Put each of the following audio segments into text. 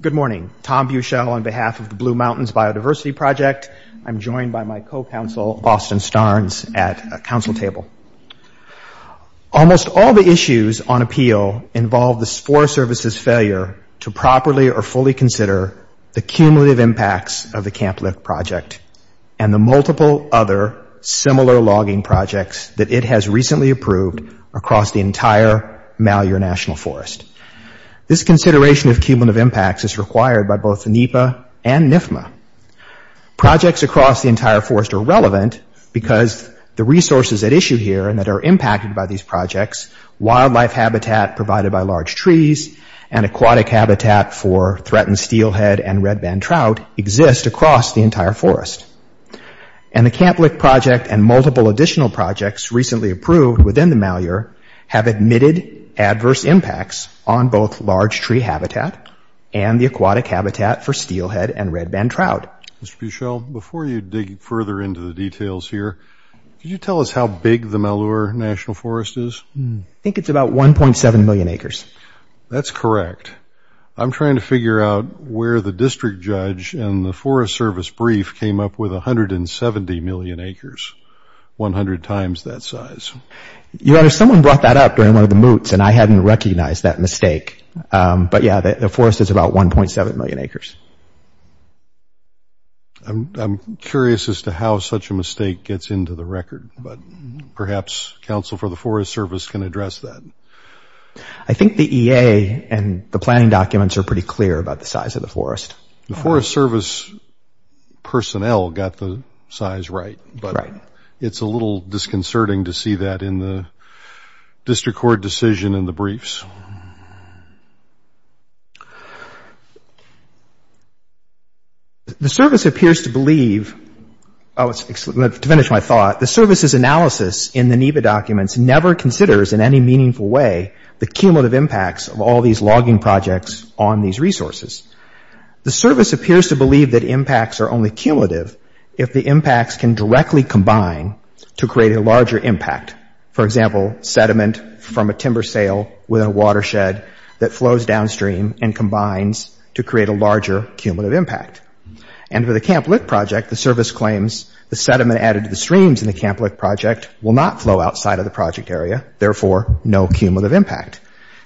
Good morning. Tom Buchel on behalf of the Blue Mountains Biodiversity Project. I'm joined by my co-counsel, Austin Starnes, at a council table. Almost all the issues on appeal involve the Forest Service's failure to properly or fully consider the cumulative impacts of the Camp Lyft project and the multiple other similar logging projects that it has recently approved across the entire Malheur National Forest. This consideration of cumulative impacts is required by both the NEPA and NIFMA. Projects across the entire forest are relevant because the resources at issue here and that are impacted by these projects, wildlife habitat provided by large trees and aquatic habitat for threatened steelhead and red-banded trout, exist across the entire forest. And the Camp Lyft project and multiple additional projects recently approved within the Malheur have admitted adverse impacts on both large tree habitat and the aquatic habitat for steelhead and red-banded trout. Mr. Buchel, before you dig further into the details here, could you tell us how big the Malheur National Forest is? I think it's about 1.7 million acres. That's correct. I'm trying to figure out where the district judge and the Forest Service brief came up with 170 million acres – 100 times that size. Your Honor, someone brought that up during one of the moots, and I hadn't recognized that mistake. But, yeah, the forest is about 1.7 million acres. I'm curious as to how such a mistake gets into the record. But perhaps counsel for the Forest Service can address that. I think the EA and the planning documents are pretty clear about the size of the forest. The Forest Service personnel got the size right. Right. But it's a little disconcerting to see that in the district court decision and the briefs. The Service appears to believe – oh, to finish my thought, the Service's analysis in the NEBA documents never considers in any meaningful way the cumulative impacts of all these logging projects on these resources. The Service appears to believe that impacts are only cumulative if the impacts can directly combine to create a larger impact. For example, sediment from a timber sale within a watershed that flows downstream and combines to create a larger cumulative impact. And for the Camp Lick Project, the Service claims the sediment added to the streams in the Camp Lick Project will not flow outside of the project area, therefore, no cumulative impact.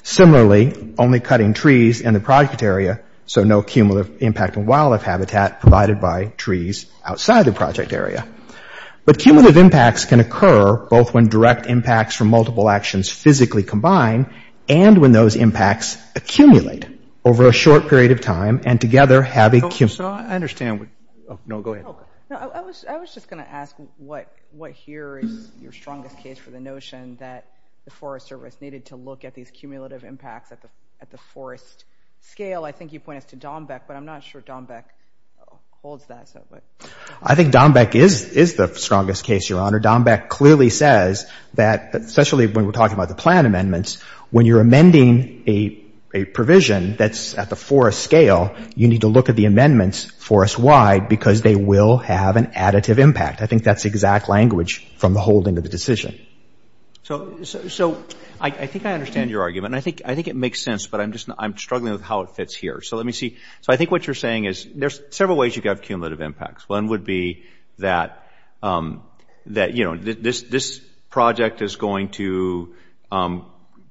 Similarly, only cutting trees in the project area, so no cumulative impact on wildlife habitat provided by trees outside the project area. But cumulative impacts can occur both when direct impacts from multiple actions physically combine and when those impacts accumulate over a short period of time and together have a – So I understand what – oh, no, go ahead. No, I was just going to ask what here is your strongest case for the notion that the Forest Service needed to look at these cumulative impacts at the forest scale. I think you pointed to Dombeck, but I'm not sure Dombeck holds that. I think Dombeck is the strongest case, Your Honor. Dombeck clearly says that, especially when we're talking about the plan amendments, when you're amending a provision that's at the forest scale, you need to look at the amendments forest-wide because they will have an additive impact. I think that's exact language from the holding of the decision. So I think I understand your argument, and I think it makes sense, but I'm just – I'm struggling with how it fits here. So let me see. So I think what you're saying is there's several ways you could have cumulative impacts. One would be that, you know, this project is going to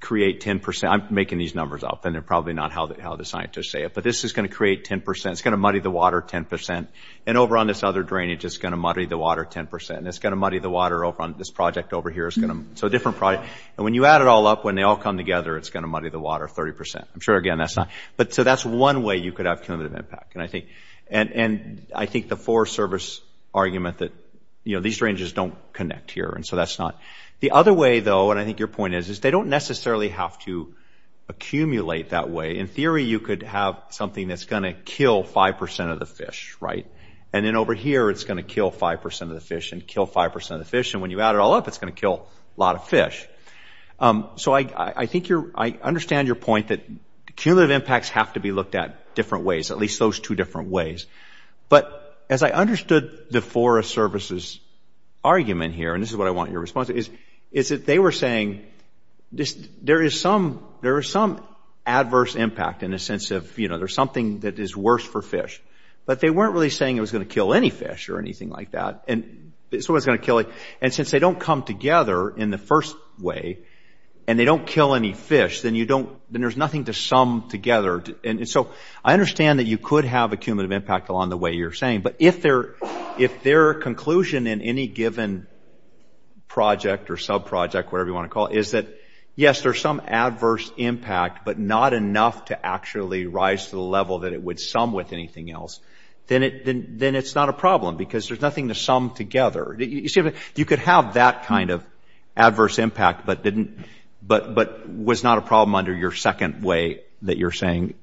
create 10 percent. I'm making these numbers up, and they're probably not how the scientists say it. But this is going to create 10 percent. It's going to muddy the water 10 percent. And over on this other drainage, it's going to muddy the water 10 percent. And it's going to muddy the water over on this project over here. So a different project. And when you add it all up, when they all come together, it's going to muddy the water 30 percent. I'm sure, again, that's not – so that's one way you could have cumulative impact. And I think the Forest Service argument that, you know, these drainages don't connect here, and so that's not – the other way, though, and I think your point is, is they don't necessarily have to accumulate that way. In theory, you could have something that's going to kill 5 percent of the fish, right? And then over here, it's going to kill 5 percent of the fish and kill 5 percent of the fish. And when you add it all up, it's going to kill a lot of fish. So I think you're – I understand your point that cumulative impacts have to be looked at different ways, at least those two different ways. But as I understood the Forest Service's argument here, and this is what I want your response to, is that they were saying there is some adverse impact in the sense of, you know, there's something that is worse for fish. But they weren't really saying it was going to kill any fish or anything like that. And so it's going to kill – and since they don't come together in the first way, and they don't kill any fish, then you don't – then there's nothing to sum together. And so I understand that you could have a cumulative impact along the way you're saying, but if their conclusion in any given project or subproject, whatever you want to call it, is that, yes, there's some adverse impact, but not enough to actually rise to the level that it would sum with anything else, then it's not a problem because there's nothing to sum together. You could have that kind of adverse impact but didn't – but was not a problem under your second way that you're saying.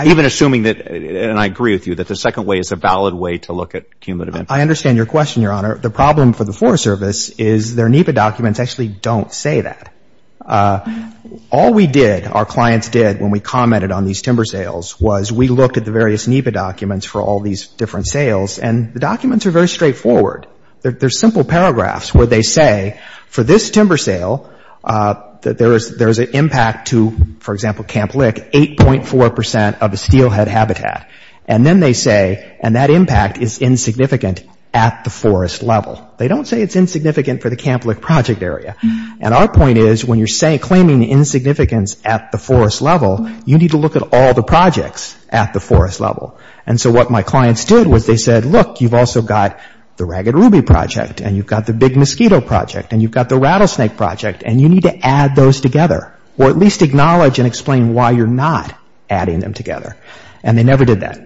Even assuming that – and I agree with you that the second way is a valid way to look at cumulative impact. I understand your question, Your Honor. The problem for the Forest Service is their NEPA documents actually don't say that. All we did, our clients did when we commented on these timber sales, was we looked at the various NEPA documents for all these different sales, and the documents are very straightforward. They're simple paragraphs where they say, for this timber sale, that there's an impact to, for example, Camp Lick, 8.4 percent of a steelhead habitat. And then they say, and that impact is insignificant at the forest level. They don't say it's insignificant for the Camp Lick project area. And our point is, when you're claiming insignificance at the forest level, you need to look at all the projects at the forest level. And so what my clients did was they said, look, you've also got the Ragged Ruby project, and you've got the Big Mosquito project, and you've got the Rattlesnake project, and you need to add those together. Or at least acknowledge and explain why you're not adding them together. And they never did that.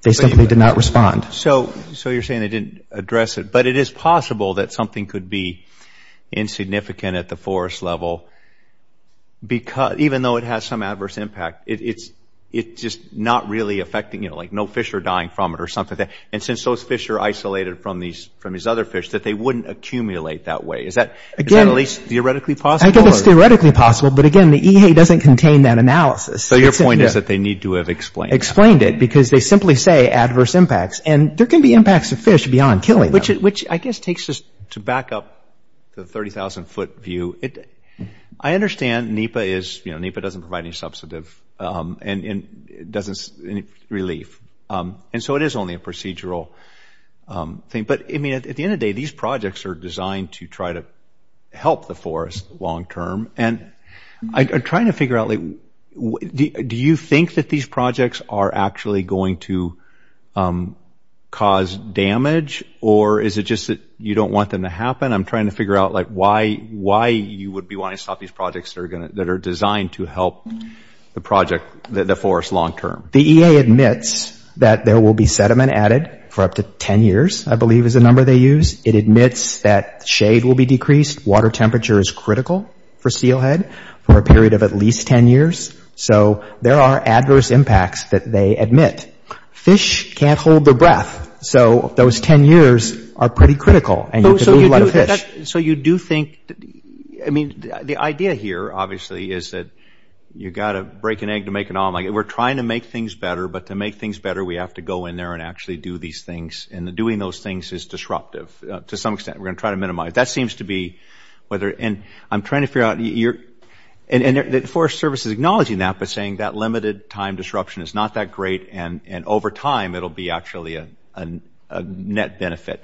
They simply did not respond. So you're saying they didn't address it. But it is possible that something could be insignificant at the forest level, even though it has some adverse impact. It's just not really affecting, you know, like no fish are dying from it or something. And since those fish are isolated from these other fish, that they wouldn't accumulate that way. Is that at least theoretically possible? I think it's theoretically possible. But, again, the EHA doesn't contain that analysis. So your point is that they need to have explained it. Explained it. Because they simply say adverse impacts. And there can be impacts to fish beyond killing them. Which I guess takes us to back up the 30,000-foot view. I understand NEPA is – you know, NEPA doesn't provide any substantive relief. And so it is only a procedural thing. But, I mean, at the end of the day, these projects are designed to try to help the forest long-term. And I'm trying to figure out, like, do you think that these projects are actually going to cause damage? Or is it just that you don't want them to happen? I'm trying to figure out, like, why you would be wanting to stop these projects that are designed to help the project – the forest long-term. The EA admits that there will be sediment added for up to 10 years, I believe is the number they use. It admits that shade will be decreased. Water temperature is critical for seal head for a period of at least 10 years. So there are adverse impacts that they admit. Fish can't hold their breath. So those 10 years are pretty critical. And you could lose a lot of fish. So you do think – I mean, the idea here, obviously, is that you've got to break an egg to make an omelet. We're trying to make things better. But to make things better, we have to go in there and actually do these things. And doing those things is disruptive to some extent. We're going to try to minimize. That seems to be whether – and I'm trying to figure out – and the Forest Service is acknowledging that, but saying that limited-time disruption is not that great, and over time, it'll be actually a net benefit.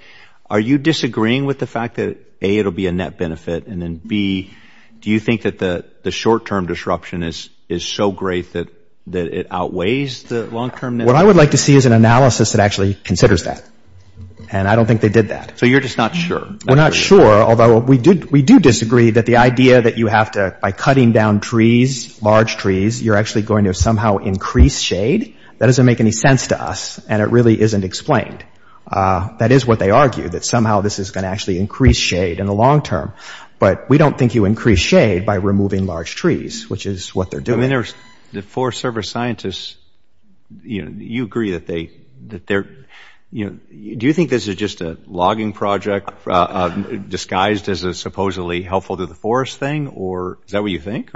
Are you disagreeing with the fact that, A, it'll be a net benefit, and then, B, do you think that the short-term disruption is so great that it outweighs the long-term net benefit? What I would like to see is an analysis that actually considers that. And I don't think they did that. So you're just not sure? We're not sure, although we do disagree that the idea that you have to – by cutting down trees, large trees, you're actually going to somehow increase shade, that doesn't make any sense to us, and it really isn't explained. That is what they argue, that somehow this is going to actually increase shade in the long term. But we don't think you increase shade by removing large trees, which is what they're doing. I mean, the Forest Service scientists, you agree that they – do you think this is just a logging project disguised as a supposedly helpful-to-the-forest thing, or is that what you think?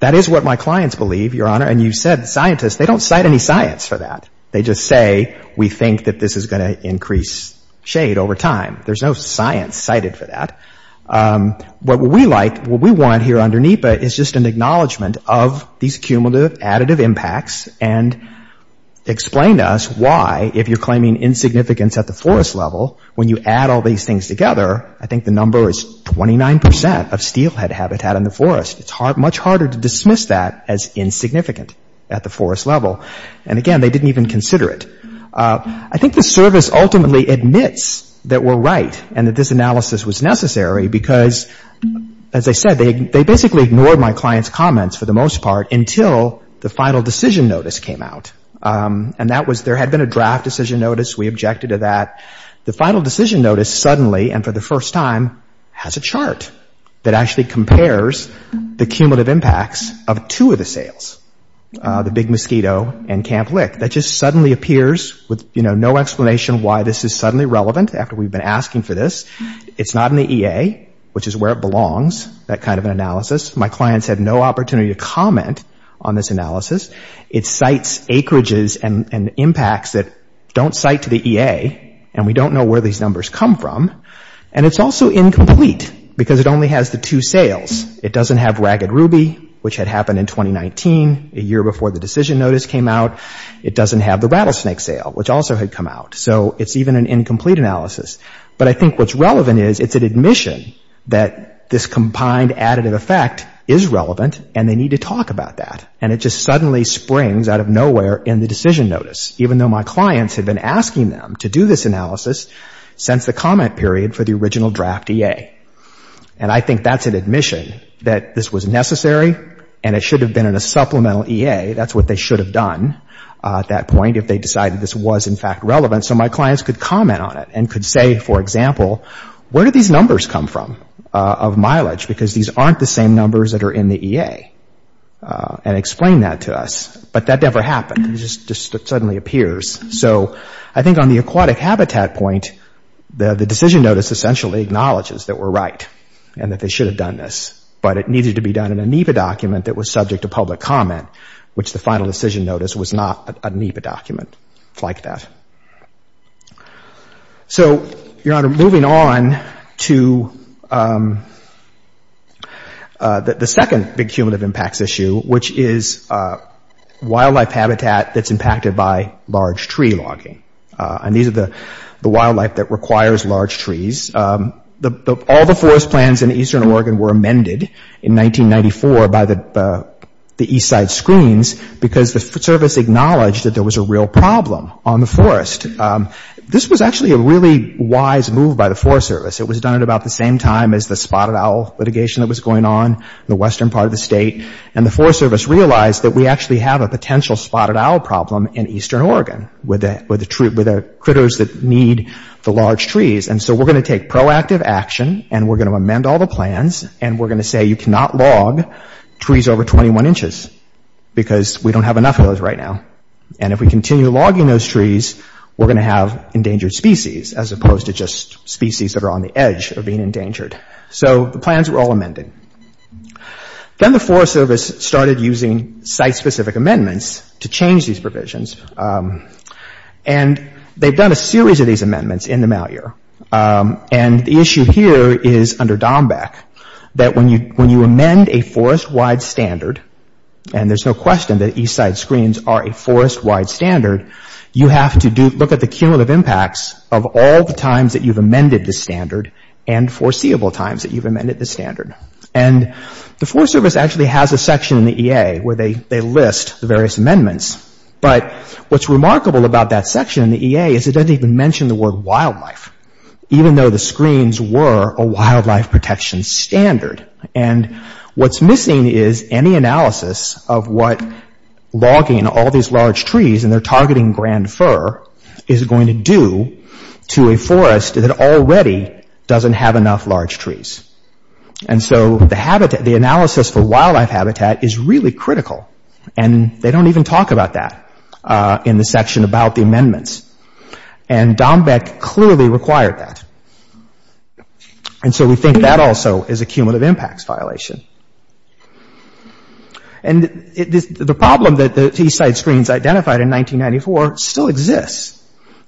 That is what my clients believe, Your Honor, and you said scientists. They don't cite any science for that. They just say we think that this is going to increase shade over time. There's no science cited for that. What we like, what we want here under NEPA is just an acknowledgement of these cumulative additive impacts and explain to us why, if you're claiming insignificance at the forest level, when you add all these things together, I think the number is 29 percent of steelhead habitat in the forest. It's much harder to dismiss that as insignificant at the forest level. And again, they didn't even consider it. I think the service ultimately admits that we're right and that this analysis was necessary because, as I said, they basically ignored my clients' comments for the most part until the final decision notice came out. And that was – there had been a draft decision notice. We objected to that. The final decision notice suddenly and for the first time has a chart that actually compares the cumulative impacts of two of the sales, the Big Mosquito and Camp Lick. That just suddenly appears with, you know, no explanation why this is suddenly relevant after we've been asking for this. It's not in the EA, which is where it belongs, that kind of an analysis. My clients had no opportunity to comment on this analysis. It cites acreages and impacts that don't cite to the EA, and we don't know where these numbers come from. And it's also incomplete because it only has the two sales. It doesn't have Ragged Ruby, which had happened in 2019, a year before the decision notice came out. It doesn't have the Rattlesnake sale, which also had come out. So it's even an incomplete analysis. But I think what's relevant is it's an admission that this combined additive effect is relevant and they need to talk about that. And it just suddenly springs out of nowhere in the decision notice, even though my clients had been asking them to do this analysis since the comment period for the original draft EA. And I think that's an admission that this was necessary and it should have been in a supplemental EA. That's what they should have done at that point if they decided this was, in fact, relevant. So my clients could comment on it and could say, for example, where do these numbers come from of mileage? Because these aren't the same numbers that are in the EA. And explain that to us. But that never happened. It just suddenly appears. So I think on the aquatic habitat point, the decision notice essentially acknowledges that we're right and that they should have done this. But it needed to be done in a NEPA document that was subject to public comment, which the final decision notice was not a NEPA document. It's like that. So, Your Honor, moving on to the second big cumulative impacts issue, which is wildlife habitat that's impacted by large tree logging. And these are the wildlife that requires large trees. All the forest plans in eastern Oregon were amended in 1994 by the east side screens because the service acknowledged that there was a real problem on the forest. This was actually a really wise move by the Forest Service. It was done at about the same time as the spotted owl litigation that was going on in the western part of the state. And the Forest Service realized that we actually have a potential spotted owl problem in eastern Oregon with the critters that need the large trees. And so we're going to take proactive action and we're going to amend all the plans and we're going to say you cannot log trees over 21 inches because we don't have enough of those right now. And if we continue logging those trees, we're going to have endangered species as opposed to just species that are on the edge of being endangered. So the plans were all amended. Then the Forest Service started using site-specific amendments to change these provisions. And they've done a series of these amendments in the mouth year. And the issue here is under DOMBEC that when you amend a forest-wide standard, and there's no question that east side screens are a forest-wide standard, you have to look at the cumulative impacts of all the times that you've amended the standard and foreseeable times that you've amended the standard. And the Forest Service actually has a section in the EA where they list the various amendments. But what's remarkable about that section in the EA is it doesn't even mention the word wildlife, even though the screens were a wildlife protection standard. And what's missing is any analysis of what logging all these large trees and they're targeting grand fir is going to do to a forest that already doesn't have enough large trees. And so the analysis for wildlife habitat is really critical. And they don't even talk about that in the section about the amendments. And DOMBEC clearly required that. And so we think that also is a cumulative impacts violation. And the problem that the east side screens identified in 1994 still exists.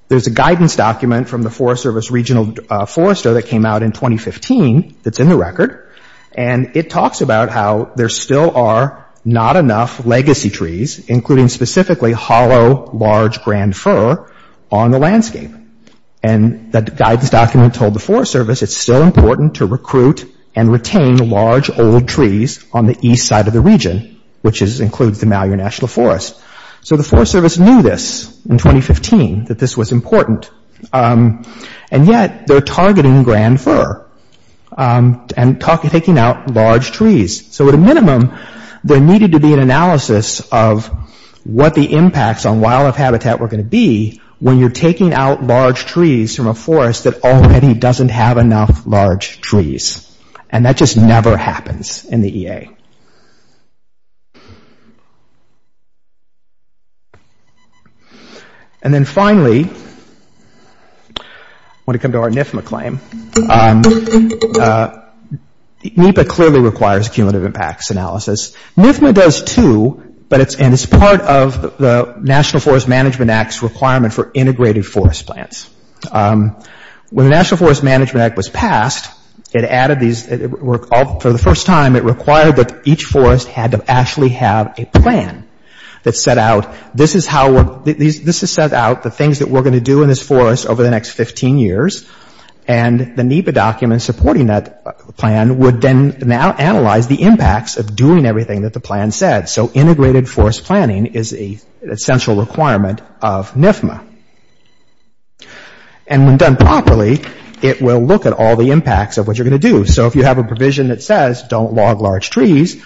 There's a guidance document from the Forest Service Regional Forester that came out in 2015 that's in the record. And it talks about how there still are not enough legacy trees, including specifically hollow, large grand fir on the landscape. And the guidance document told the Forest Service it's still important to recruit and retain large, old trees on the east side of the region, which includes the Mallier National Forest. So the Forest Service knew this in 2015, that this was important. And yet they're targeting grand fir and taking out large trees. So at a minimum, there needed to be an analysis of what the impacts on wildlife habitat were going to be when you're taking out large trees from a forest that already doesn't have enough large trees. And that just never happens in the EA. And then finally, I want to come to our NFMA claim. NEPA clearly requires cumulative impacts analysis. NFMA does too, and it's part of the National Forest Management Act's requirement for integrated forest plants. When the National Forest Management Act was passed, it added these, for the first time it required that each forest had to actually have a plan that set out, this is how, this has set out the things that we're going to do in this forest over the next 15 years. And the NEPA document supporting that plan would then now analyze the impacts of doing everything that the plan said. So integrated forest planning is an essential requirement of NFMA. And when done properly, it will look at all the impacts of what you're going to do. So if you have a provision that says don't log large trees,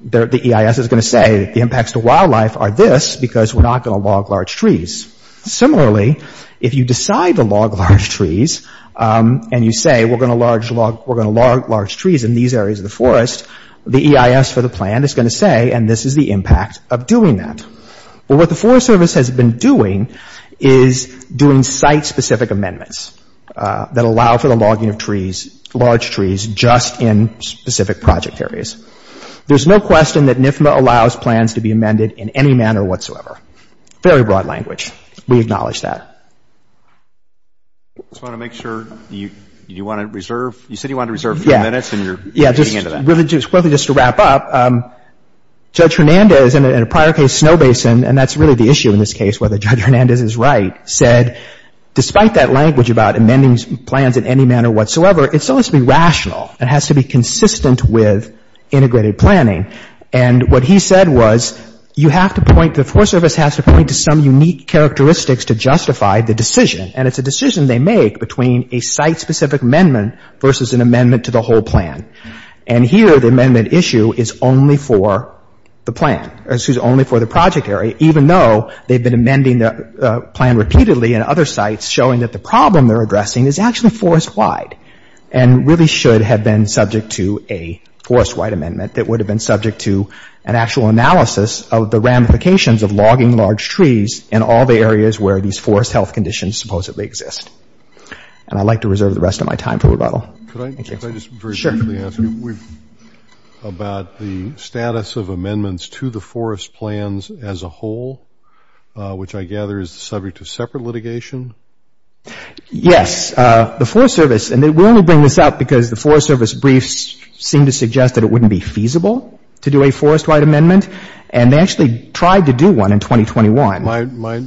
the EIS is going to say the impacts to wildlife are this because we're not going to log large trees. Similarly, if you decide to log large trees and you say we're going to log large trees in these areas of the forest, the EIS for the plan is going to say and this is the impact of doing that. But what the Forest Service has been doing is doing site-specific amendments that allow for the logging of trees, large trees just in specific project areas. There's no question that NFMA allows plans to be amended in any manner whatsoever. Very broad language. We acknowledge that. I just want to make sure, you said you wanted to reserve a few minutes and you're getting into that. Yeah, just quickly just to wrap up, Judge Hernandez in a prior case, Snow Basin, and that's really the issue in this case, whether Judge Hernandez is right, said despite that language about amending plans in any manner whatsoever, it still has to be rational. It has to be consistent with integrated planning. And what he said was you have to point, the Forest Service has to point to some unique characteristics to justify the decision, and it's a decision they make between a site-specific amendment versus an amendment to the whole plan. And here the amendment issue is only for the plan, excuse me, only for the project area, even though they've been amending the plan repeatedly in other sites showing that the problem they're addressing is actually forest-wide and really should have been subject to a forest-wide amendment that would have been subject to an actual analysis of the ramifications of logging large trees in all the areas where these forest health conditions supposedly exist. And I'd like to reserve the rest of my time for rebuttal. Could I just very briefly ask you about the status of amendments to the forest plans as a whole, which I gather is the subject of separate litigation? Yes, the Forest Service, and we only bring this up because the Forest Service briefs seem to suggest that it wouldn't be feasible to do a forest-wide amendment, and they actually tried to do one in 2021.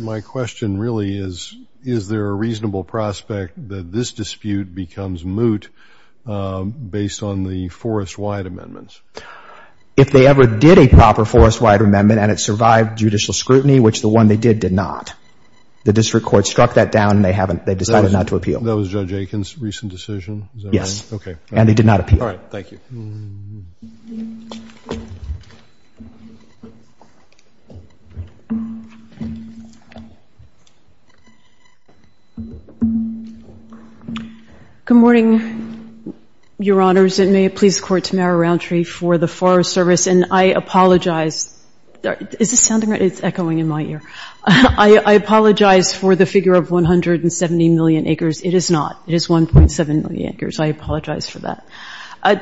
My question really is, is there a reasonable prospect that this dispute becomes moot based on the forest-wide amendments? If they ever did a proper forest-wide amendment and it survived judicial scrutiny, which the one they did, did not. The district court struck that down and they decided not to appeal. That was Judge Aiken's recent decision? Yes, and they did not appeal. All right, thank you. Good morning, Your Honors, and may it please the Court to mower around tree for the Forest Service. And I apologize. Is this sounding right? It's echoing in my ear. I apologize for the figure of 170 million acres. It is not. It is 1.7 million acres. I apologize for that.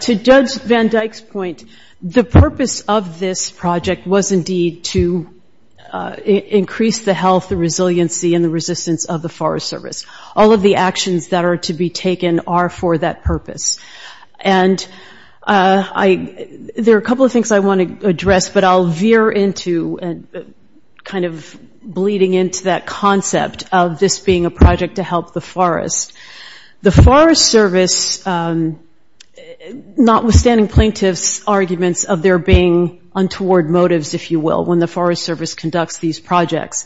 To Judge Van Dyke's point, the purpose of this project was indeed to increase the health, the resiliency, and the resistance of the Forest Service. All of the actions that are to be taken are for that purpose. And there are a couple of things I want to address, but I'll veer into kind of bleeding into that concept of this being a project to help the forest. Notwithstanding plaintiffs' arguments of there being untoward motives, if you will, when the Forest Service conducts these projects,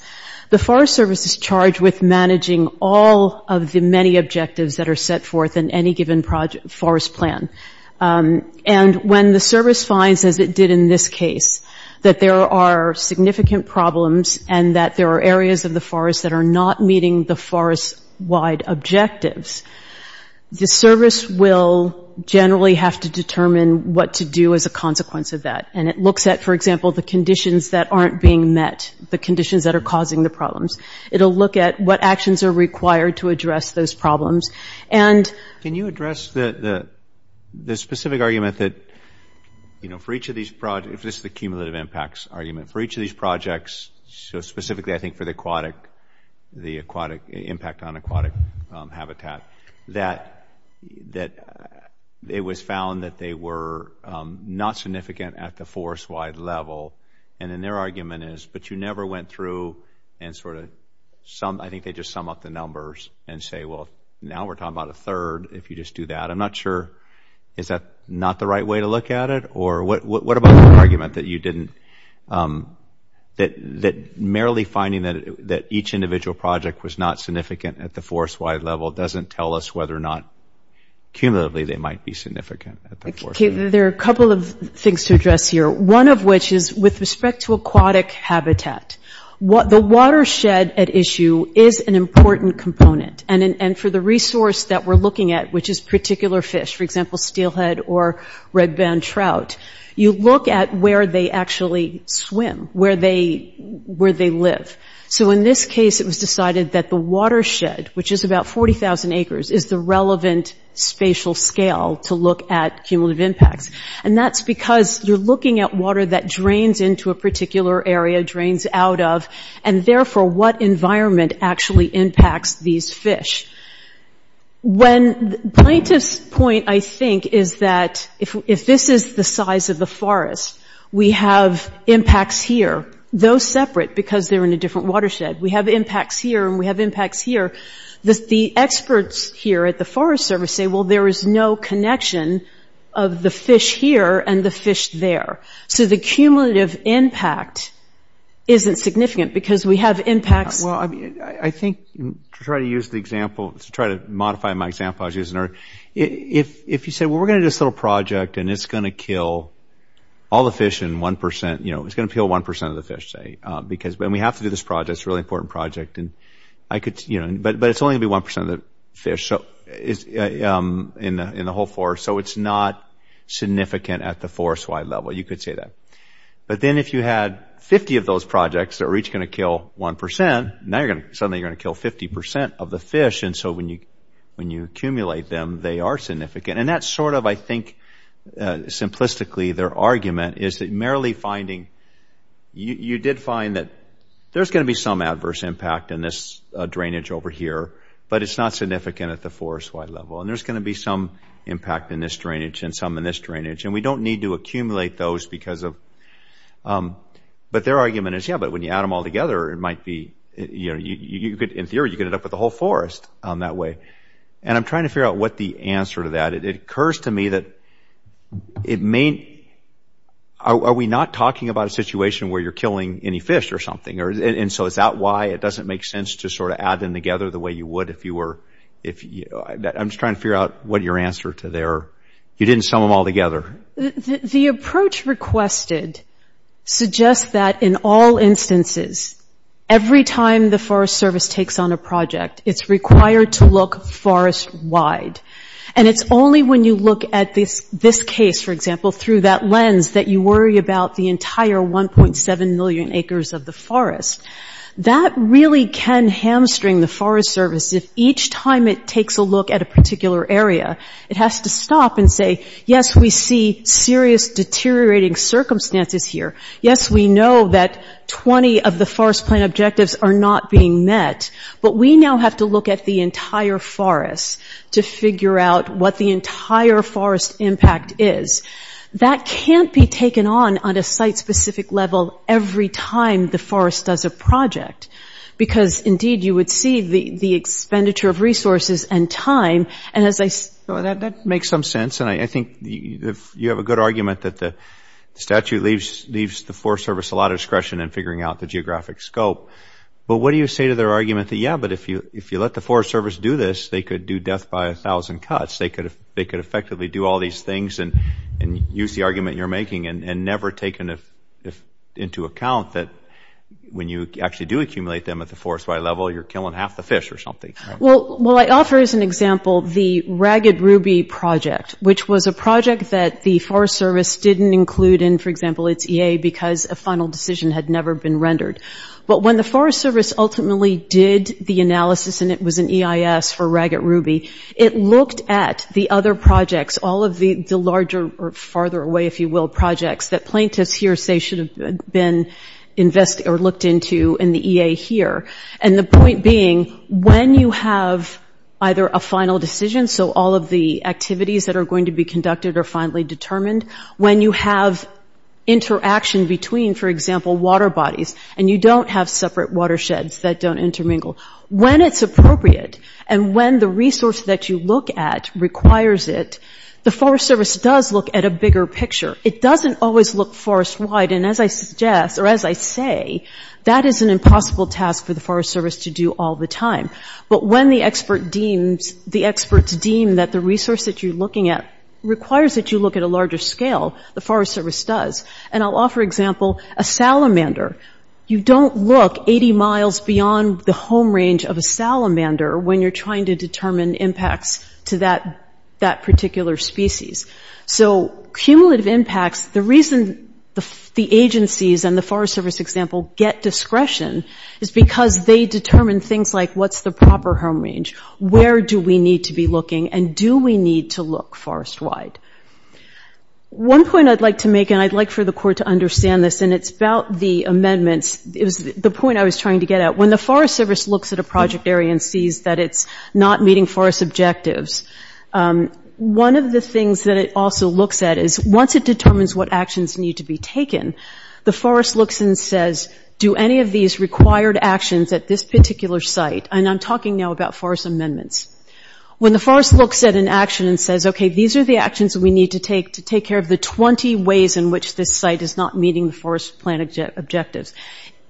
the Forest Service is charged with managing all of the many objectives that are set forth in any given forest plan. And when the Service finds, as it did in this case, that there are significant problems and that there are areas of the forest that are not meeting the forest-wide objectives, the Service will generally have to determine what to do as a consequence of that. And it looks at, for example, the conditions that aren't being met, the conditions that are causing the problems. It'll look at what actions are required to address those problems. Can you address the specific argument that for each of these projects, if this is the cumulative impacts argument, for each of these projects, so specifically I think for the aquatic, the impact on aquatic habitat, that it was found that they were not significant at the forest-wide level, and then their argument is, but you never went through and sort of, I think they just sum up the numbers and say, well, now we're talking about a third if you just do that. I'm not sure, is that not the right way to look at it? Or what about the argument that you didn't, that merely finding that each individual project was not significant at the forest-wide level doesn't tell us whether or not cumulatively they might be significant at the forest-wide level? There are a couple of things to address here, one of which is with respect to aquatic habitat. The watershed at issue is an important component, and for the resource that we're looking at, which is particular fish, for example, steelhead or red band trout, you look at where they actually swim, where they live. So in this case, it was decided that the watershed, which is about 40,000 acres, is the relevant spatial scale to look at cumulative impacts, and that's because you're looking at water that drains into a particular area, drains out of, and therefore what environment actually impacts these fish. When plaintiff's point, I think, is that if this is the size of the forest, we have impacts here, though separate because they're in a different watershed. We have impacts here, and we have impacts here. The experts here at the Forest Service say, well, there is no connection of the fish here and the fish there. So the cumulative impact isn't significant because we have impacts. Well, I think to try to use the example, to try to modify my example I was using earlier, if you say, well, we're going to do this little project, and it's going to kill all the fish in 1%, you know, it's going to kill 1% of the fish, say, because, and we have to do this project. It's a really important project, and I could, you know, but it's only going to be 1% of the fish in the whole forest, so it's not significant at the forest-wide level. You could say that. But then if you had 50 of those projects that were each going to kill 1%, now you're going to, suddenly you're going to kill 50% of the fish, and so when you accumulate them, they are significant. And that's sort of, I think, simplistically their argument is that merely finding, you did find that there's going to be some adverse impact in this drainage over here, but it's not significant at the forest-wide level, and there's going to be some impact in this drainage and some in this drainage, and we don't need to accumulate those because of, but their argument is, yeah, but when you add them all together, it might be, you know, you could, in theory, you could end up with a whole forest that way. And I'm trying to figure out what the answer to that, it occurs to me that it may, are we not talking about a situation where you're killing any fish or something, and so is that why it doesn't make sense to sort of add them together the way you would if you were, I'm just trying to figure out what your answer to their, you didn't sum them all together. The approach requested suggests that in all instances, every time the Forest Service takes on a project, it's required to look forest-wide. And it's only when you look at this case, for example, through that lens, that you worry about the entire 1.7 million acres of the forest. That really can hamstring the Forest Service if each time it takes a look at a particular area, it has to stop and say, yes, we see serious deteriorating circumstances here. Yes, we know that 20 of the forest plan objectives are not being met, but we now have to look at the entire forest to figure out what the entire forest impact is. That can't be taken on on a site-specific level every time the forest does a project, because, indeed, you would see the expenditure of resources and time. That makes some sense. And I think you have a good argument that the statute leaves the Forest Service a lot of discretion in figuring out the geographic scope. But what do you say to their argument that, yeah, but if you let the Forest Service do this, they could do death by a thousand cuts. They could effectively do all these things and use the argument you're making and never take into account that when you actually do accumulate them at the forest-wide level, you're killing half the fish or something. Well, I offer as an example the Ragged Ruby project, which was a project that the Forest Service didn't include in, for example, its EA because a final decision had never been rendered. But when the Forest Service ultimately did the analysis, and it was an EIS for Ragged Ruby, it looked at the other projects, all of the larger or farther away, if you will, projects that plaintiffs here say should have been looked into in the EA here. And the point being, when you have either a final decision, so all of the activities that are going to be conducted are finally determined, when you have interaction between, for example, water bodies, and you don't have separate watersheds that don't intermingle, when it's appropriate and when the resource that you look at requires it, the Forest Service does look at a bigger picture. It doesn't always look forest-wide, and as I suggest, or as I say, that is an impossible task for the Forest Service to do all the time. But when the experts deem that the resource that you're looking at requires that you look at a larger scale, the Forest Service does. And I'll offer an example. A salamander, you don't look 80 miles beyond the home range of a salamander when you're trying to determine impacts to that particular species. So cumulative impacts, the reason the agencies and the Forest Service, for example, get discretion is because they determine things like what's the proper home range, where do we need to be looking, and do we need to look forest-wide? One point I'd like to make, and I'd like for the Court to understand this, and it's about the amendments. It was the point I was trying to get at. When the Forest Service looks at a project area and sees that it's not meeting forest objectives, one of the things that it also looks at is once it determines what actions need to be taken, the Forest looks and says, do any of these required actions at this particular site, and I'm talking now about forest amendments. When the Forest looks at an action and says, okay, these are the actions that we need to take to take care of the 20 ways in which this site is not meeting the forest plan objectives,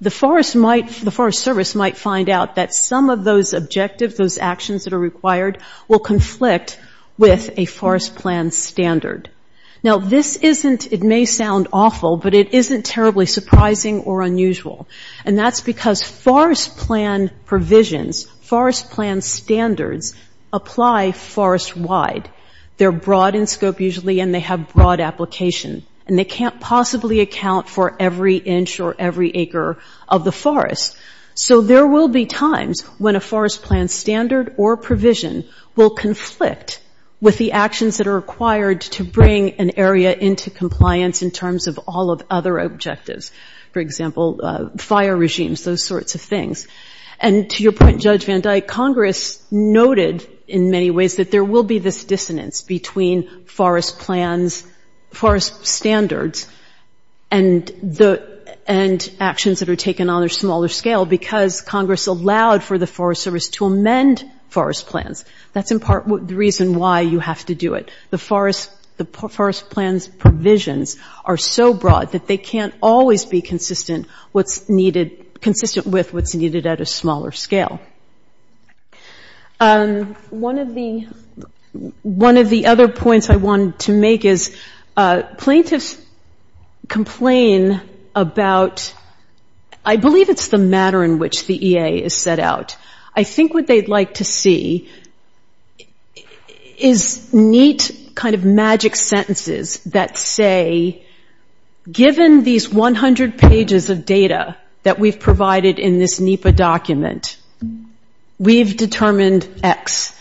the Forest might – the Forest Service might find out that some of those objectives, those actions that are required, will conflict with a forest plan standard. Now, this isn't – it may sound awful, but it isn't terribly surprising or unusual. And that's because forest plan provisions, forest plan standards, apply forest-wide. They're broad in scope usually, and they have broad application. And they can't possibly account for every inch or every acre of the forest. So there will be times when a forest plan standard or provision will conflict with the actions that are required to bring an area into compliance in terms of all of other objectives, for example, fire regimes, those sorts of things. And to your point, Judge Van Dyke, Congress noted in many ways that there will be this dissonance between forest plans – forest standards and actions that are taken on a smaller scale because Congress allowed for the Forest Service to amend forest plans. That's in part the reason why you have to do it. The forest plans provisions are so broad that they can't always be consistent what's needed – consistent with what's needed at a smaller scale. One of the – one of the other points I wanted to make is plaintiffs complain about – I believe it's the matter in which the EA is set out. I think what they'd like to see is neat kind of magic sentences that say, given these 100 pages of data that we've provided in this NEPA document, we've determined X.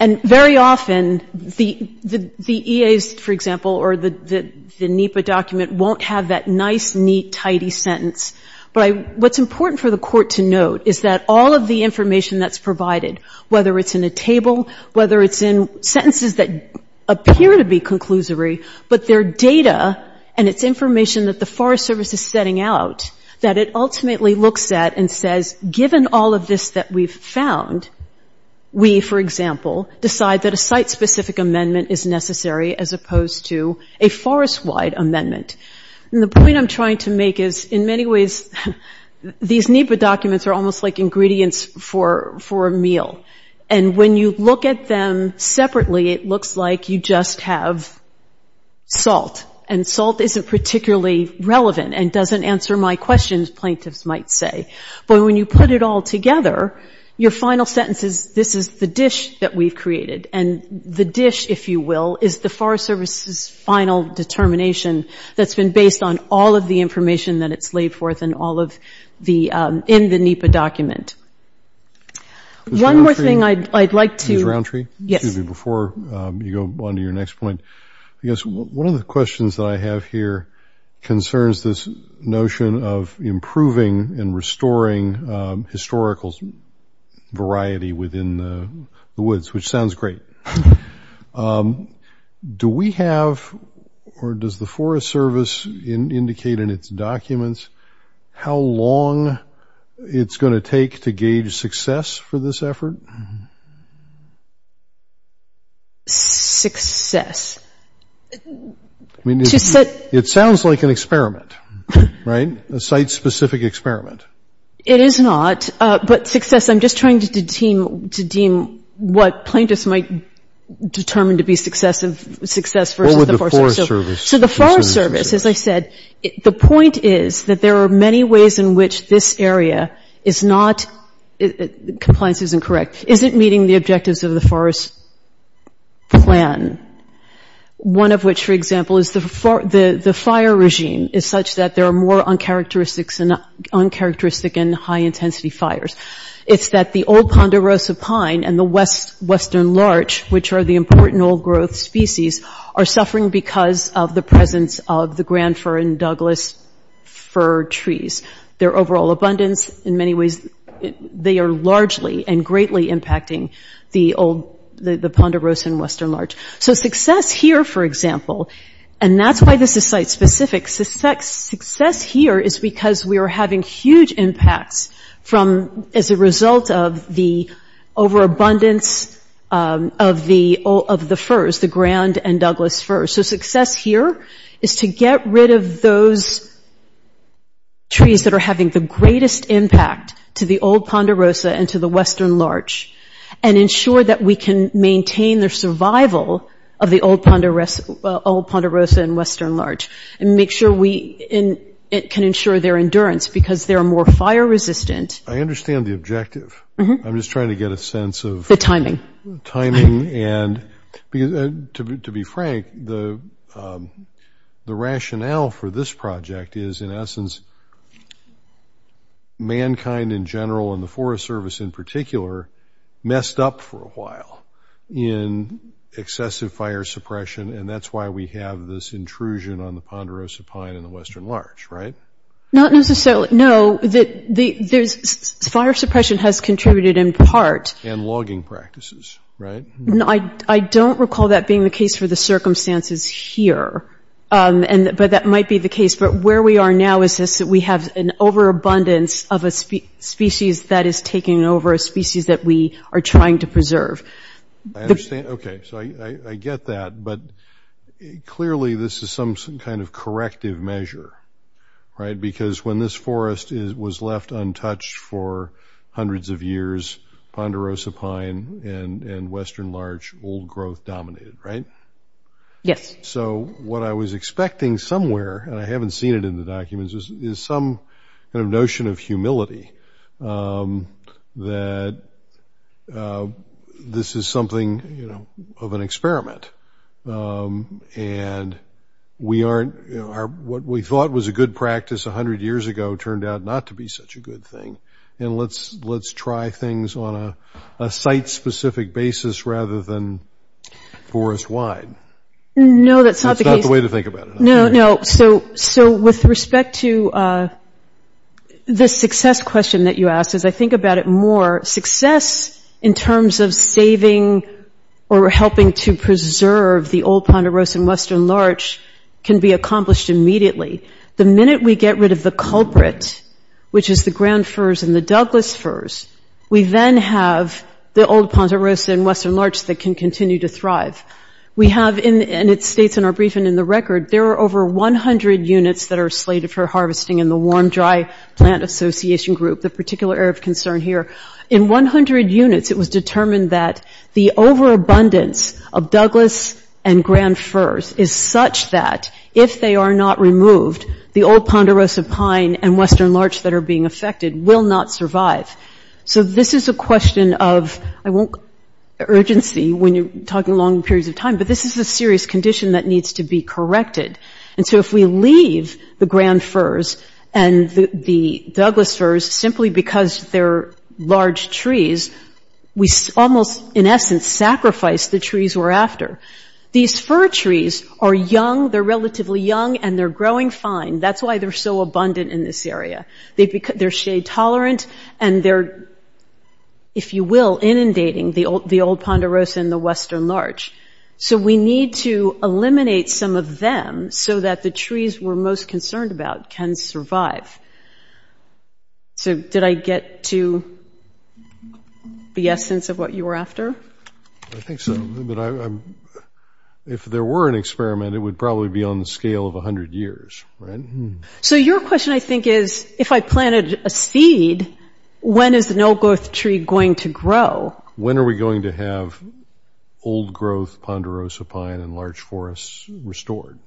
And very often, the EAs, for example, or the NEPA document, won't have that nice, neat, tidy sentence. But what's important for the Court to note is that all of the information that's provided, whether it's in a table, whether it's in sentences that appear to be conclusory, but their data and its information that the Forest Service is setting out, that it ultimately looks at and says, given all of this that we've found, we, for example, decide that a site-specific amendment is necessary as opposed to a forest-wide amendment. And the point I'm trying to make is, in many ways, these NEPA documents are almost like ingredients for a meal. And when you look at them separately, it looks like you just have salt. And salt isn't particularly relevant and doesn't answer my questions, plaintiffs might say. But when you put it all together, your final sentence is, this is the dish that we've created. And the dish, if you will, is the Forest Service's final determination that's been based on all of the information that it's laid forth and all of the – in the NEPA document. One more thing I'd like to –– Ms. Roundtree? – Yes. – Excuse me. Before you go on to your next point, I guess one of the questions that I have here concerns this notion of improving and restoring historical variety within the woods, which sounds great. Do we have – or does the Forest Service indicate in its documents how long it's going to take to gauge success for this effort? – Success? – I mean, it sounds like an experiment, right? A site-specific experiment. – It is not. But success – I'm just trying to deem what plaintiffs might determine to be success versus the Forest Service. – What would the Forest Service –– So the Forest Service, as I said, the point is that there are many ways in which this area is not – compliance isn't correct – isn't meeting the objectives of the Forest Plan. One of which, for example, is the fire regime is such that there are more uncharacteristic and high-intensity fires. It's that the old ponderosa pine and the western larch, which are the important old-growth species, are suffering because of the presence of the Grand Fir and Douglas fir trees. Their overall abundance, in many ways, they are largely and greatly impacting the old – the ponderosa and western larch. So success here, for example – and that's why this is site-specific – success here is because we are having huge impacts from – as a result of the overabundance of the firs – the Grand and Douglas firs. So success here is to get rid of those trees that are having the greatest impact to the old ponderosa and to the western larch and ensure that we can maintain their survival of the old ponderosa and western larch and make sure we – and it can ensure their endurance because they're more fire-resistant. I understand the objective. I'm just trying to get a sense of… The timing.… the timing. And to be frank, the rationale for this project is, in essence, mankind in general, and the Forest Service in particular, messed up for a while in excessive fire suppression. And that's why we have this intrusion on the ponderosa pine and the western larch, right? Not necessarily. No, the – there's – fire suppression has contributed in part… And logging practices, right? I don't recall that being the case for the circumstances here. But that might be the case. But where we are now is this – that we have an overabundance of a species that is taking over a species that we are trying to preserve. I understand. Okay. So I get that. But clearly, this is some kind of corrective measure, right? Because when this forest was left untouched for hundreds of years, ponderosa pine and western larch old growth dominated, right? Yes. So what I was expecting somewhere – and I haven't seen it in the documents – is some kind of notion of humility that this is something, you know, of an experiment. And we aren't – what we thought was a good practice 100 years ago turned out not to be such a good thing. And let's try things on a site-specific basis rather than forest-wide. No, that's not the case. That's not the way to think about it. No, no. So with respect to the success question that you asked, as I think about it more, success in terms of saving or helping to preserve the old ponderosa and western larch can be accomplished immediately. The minute we get rid of the culprit, which is the ground firs and the Douglas firs, we then have the old ponderosa and western larch that can continue to thrive. We have – and it states in our brief and in the record, there are over 100 units that are slated for harvesting in the Warm Dry Plant Association group, the particular area of concern here. In 100 units, it was determined that the overabundance of Douglas and ground firs is such that if they are not removed, the old ponderosa pine and western larch that are being affected will not survive. So this is a question of – I won't – urgency when you're talking long periods of time, but this is a serious condition that needs to be corrected. And so if we leave the ground firs and the Douglas firs, simply because they're large trees, we almost, in essence, sacrifice the trees we're after. These fir trees are young. They're relatively young, and they're growing fine. That's why they're so abundant in this area. They're shade-tolerant, and they're, if you will, inundating the old ponderosa and the western larch. So we need to eliminate some of them so that the trees we're most concerned about can survive. So did I get to the essence of what you were after? I think so. But I'm – if there were an experiment, it would probably be on the scale of 100 years, right? So your question, I think, is, if I planted a seed, when is an old-growth tree going to grow? When are we going to have old-growth ponderosa pine and large forests restored?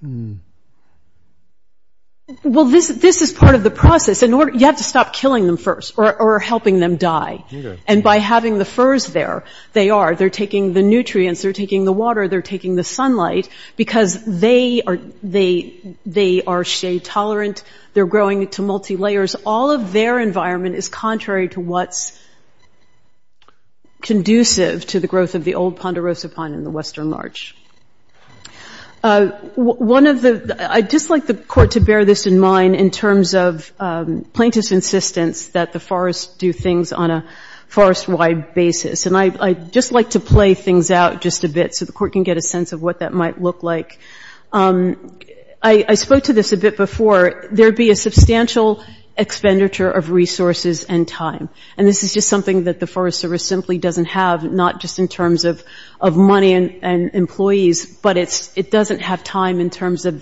Well, this is part of the process. In order – you have to stop killing them first or helping them die. Okay. And by having the firs there, they are – they're taking the nutrients. They're taking the water. They're taking the sunlight because they are shade-tolerant. They're growing to multi-layers. All of their environment is contrary to what's conducive to the growth of the old ponderosa pine and the western larch. One of the – I'd just like the Court to bear this in mind in terms of plaintiff's insistence that the forests do things on a forest-wide basis. And I'd just like to play things out just a bit so the Court can get a sense of what that might look like. I spoke to this a bit before. There would be a substantial expenditure of resources and time. And this is just something that the Forest Service simply doesn't have, not just in terms of money and employees, but it doesn't have time in terms of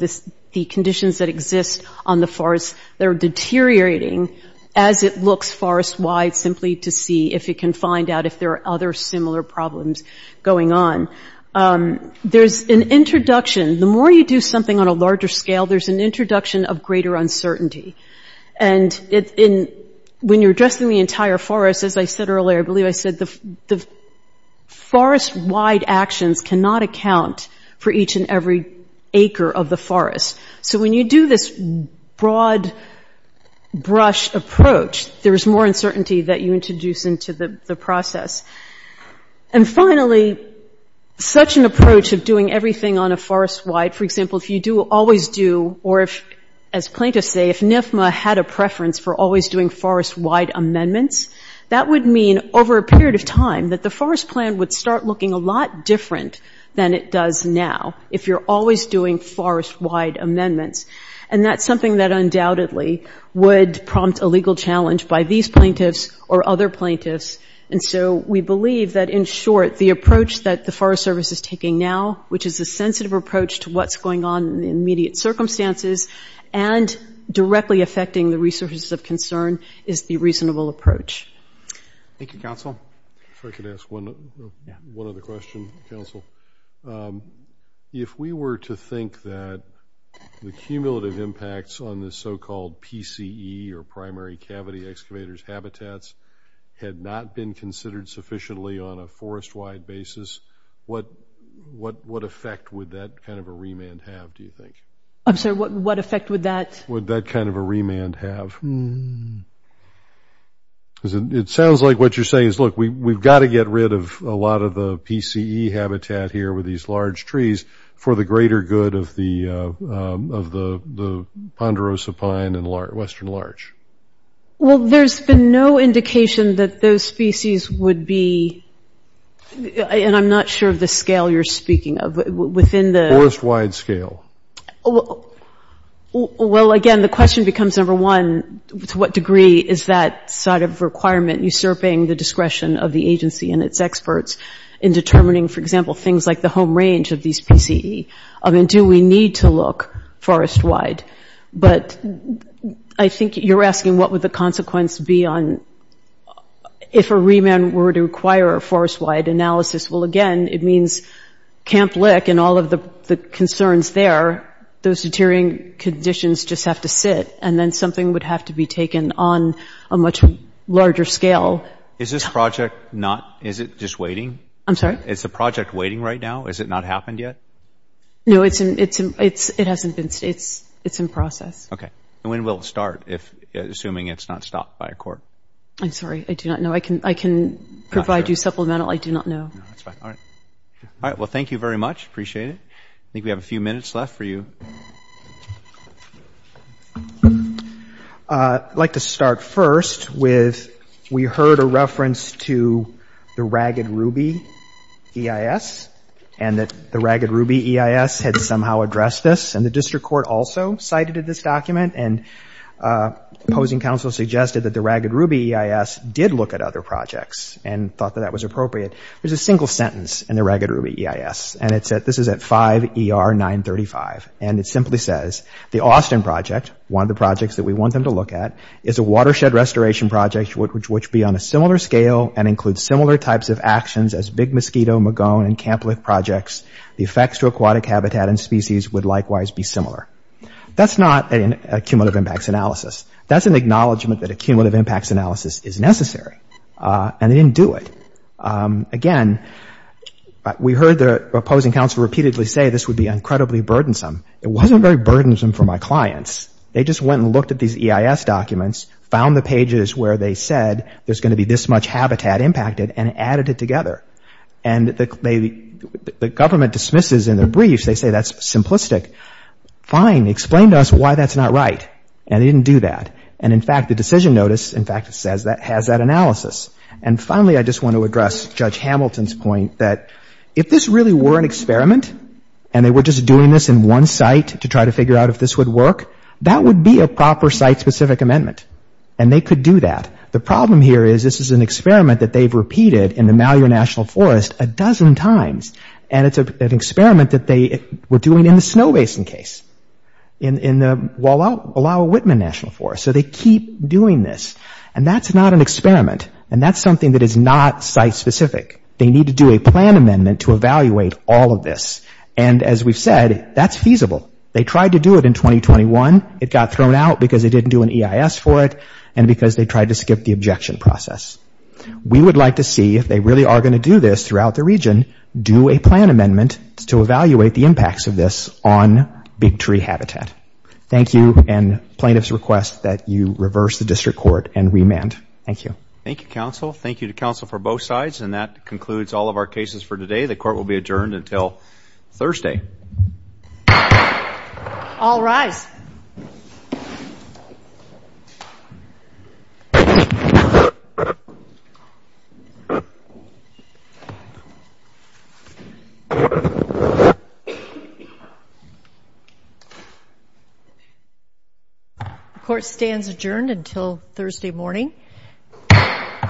the conditions that exist on the forests that are deteriorating as it looks forest-wide simply to see if it can find out if there are other similar problems going on. There's an introduction. The more you do something on a larger scale, there's an introduction of greater uncertainty. And when you're addressing the entire forest, as I said earlier, I believe I said the forest-wide actions cannot account for each and every acre of the forest. So when you do this broad brush approach, there's more uncertainty that you introduce into the process. And finally, such an approach of doing everything on a forest-wide, for example, if you do always do or if, as plaintiffs say, if NFMA had a preference for always doing forest-wide amendments, that would mean over a period of time that the forest plan would start looking a lot different than it does now if you're always doing forest-wide amendments. And that's something that undoubtedly would prompt a legal challenge by these plaintiffs or other plaintiffs. And so we believe that, in short, the approach that the Forest Service is taking now, which is a sensitive approach to what's going on in the immediate circumstances and directly affecting the resources of concern, is the reasonable approach. Thank you, Counsel. If I could ask one other question, Counsel. If we were to think that the cumulative impacts on the so-called PCE or primary cavity excavators' habitats had not been considered sufficiently on a forest-wide basis, what effect would that kind of a remand have, do you think? I'm sorry, what effect would that? Would that kind of a remand have? Hmm. Because it sounds like what you're saying is, look, we've got to get rid of a lot of the PCE habitat here with these large trees for the greater good of the ponderosa pine and western larch. Well, there's been no indication that those species would be – and I'm not sure of the scale you're speaking of. Within the… Forest-wide scale. Well, again, the question becomes, number one, to what degree is that sort of requirement usurping the discretion of the agency and its experts in determining, for example, things like the home range of these PCE? I mean, do we need to look forest-wide? But I think you're asking what would the consequence be on – if a remand were to require a forest-wide analysis. Well, again, it means Camp Lick and all of the concerns there, those deteriorating conditions just have to sit, and then something would have to be taken on a much larger scale. Is this project not – is it just waiting? I'm sorry? Is the project waiting right now? Has it not happened yet? No, it's in – it hasn't been – it's in process. Okay. And when will it start, assuming it's not stopped by a court? I'm sorry. I do not know. I can provide you supplemental. I do not know. No, that's fine. All right. All right, well, thank you very much. Appreciate it. I think we have a few minutes left for you. I'd like to start first with we heard a reference to the Ragged Ruby EIS and that the Ragged Ruby EIS had somehow addressed this, and the district court also cited this document, and opposing counsel suggested that the Ragged Ruby EIS did look at other projects and thought that that was appropriate. There's a single sentence in the Ragged Ruby EIS, and it's at – this is at 5 ER 935. And it simply says, the Austin project, one of the projects that we want them to look at, is a watershed restoration project which would be on a similar scale and include similar types of actions as Big Mosquito, Magone, and Camp Lick projects. The effects to aquatic habitat and species would likewise be similar. That's not a cumulative impacts analysis. That's an acknowledgment that a cumulative impacts analysis is necessary. And they didn't do it. Again, we heard the opposing counsel repeatedly say this would be incredibly burdensome. It wasn't very burdensome for my clients. They just went and looked at these EIS documents, found the pages where they said there's going to be this much habitat impacted, and added it together. And the government dismisses in their briefs, they say that's simplistic. Fine, explain to us why that's not right. And they didn't do that. And, in fact, the decision notice, in fact, has that analysis. And finally, I just want to address Judge Hamilton's point that if this really were an experiment and they were just doing this in one site to try to figure out if this would work, that would be a proper site-specific amendment. And they could do that. The problem here is this is an experiment that they've repeated in the Malheur National Forest a dozen times. And it's an experiment that they were doing in the Snow Basin case, in the Wallowa-Whitman National Forest. So they keep doing this. And that's not an experiment. And that's something that is not site-specific. They need to do a plan amendment to evaluate all of this. And, as we've said, that's feasible. They tried to do it in 2021. It got thrown out because they didn't do an EIS for it and because they tried to skip the objection process. We would like to see, if they really are going to do this throughout the region, do a plan amendment to evaluate the impacts of this on big tree habitat. Thank you. And plaintiffs request that you reverse the district court and remand. Thank you. Thank you, counsel. Thank you to counsel for both sides. And that concludes all of our cases for today. The court will be adjourned until Thursday. All rise. The court stands adjourned until Thursday morning.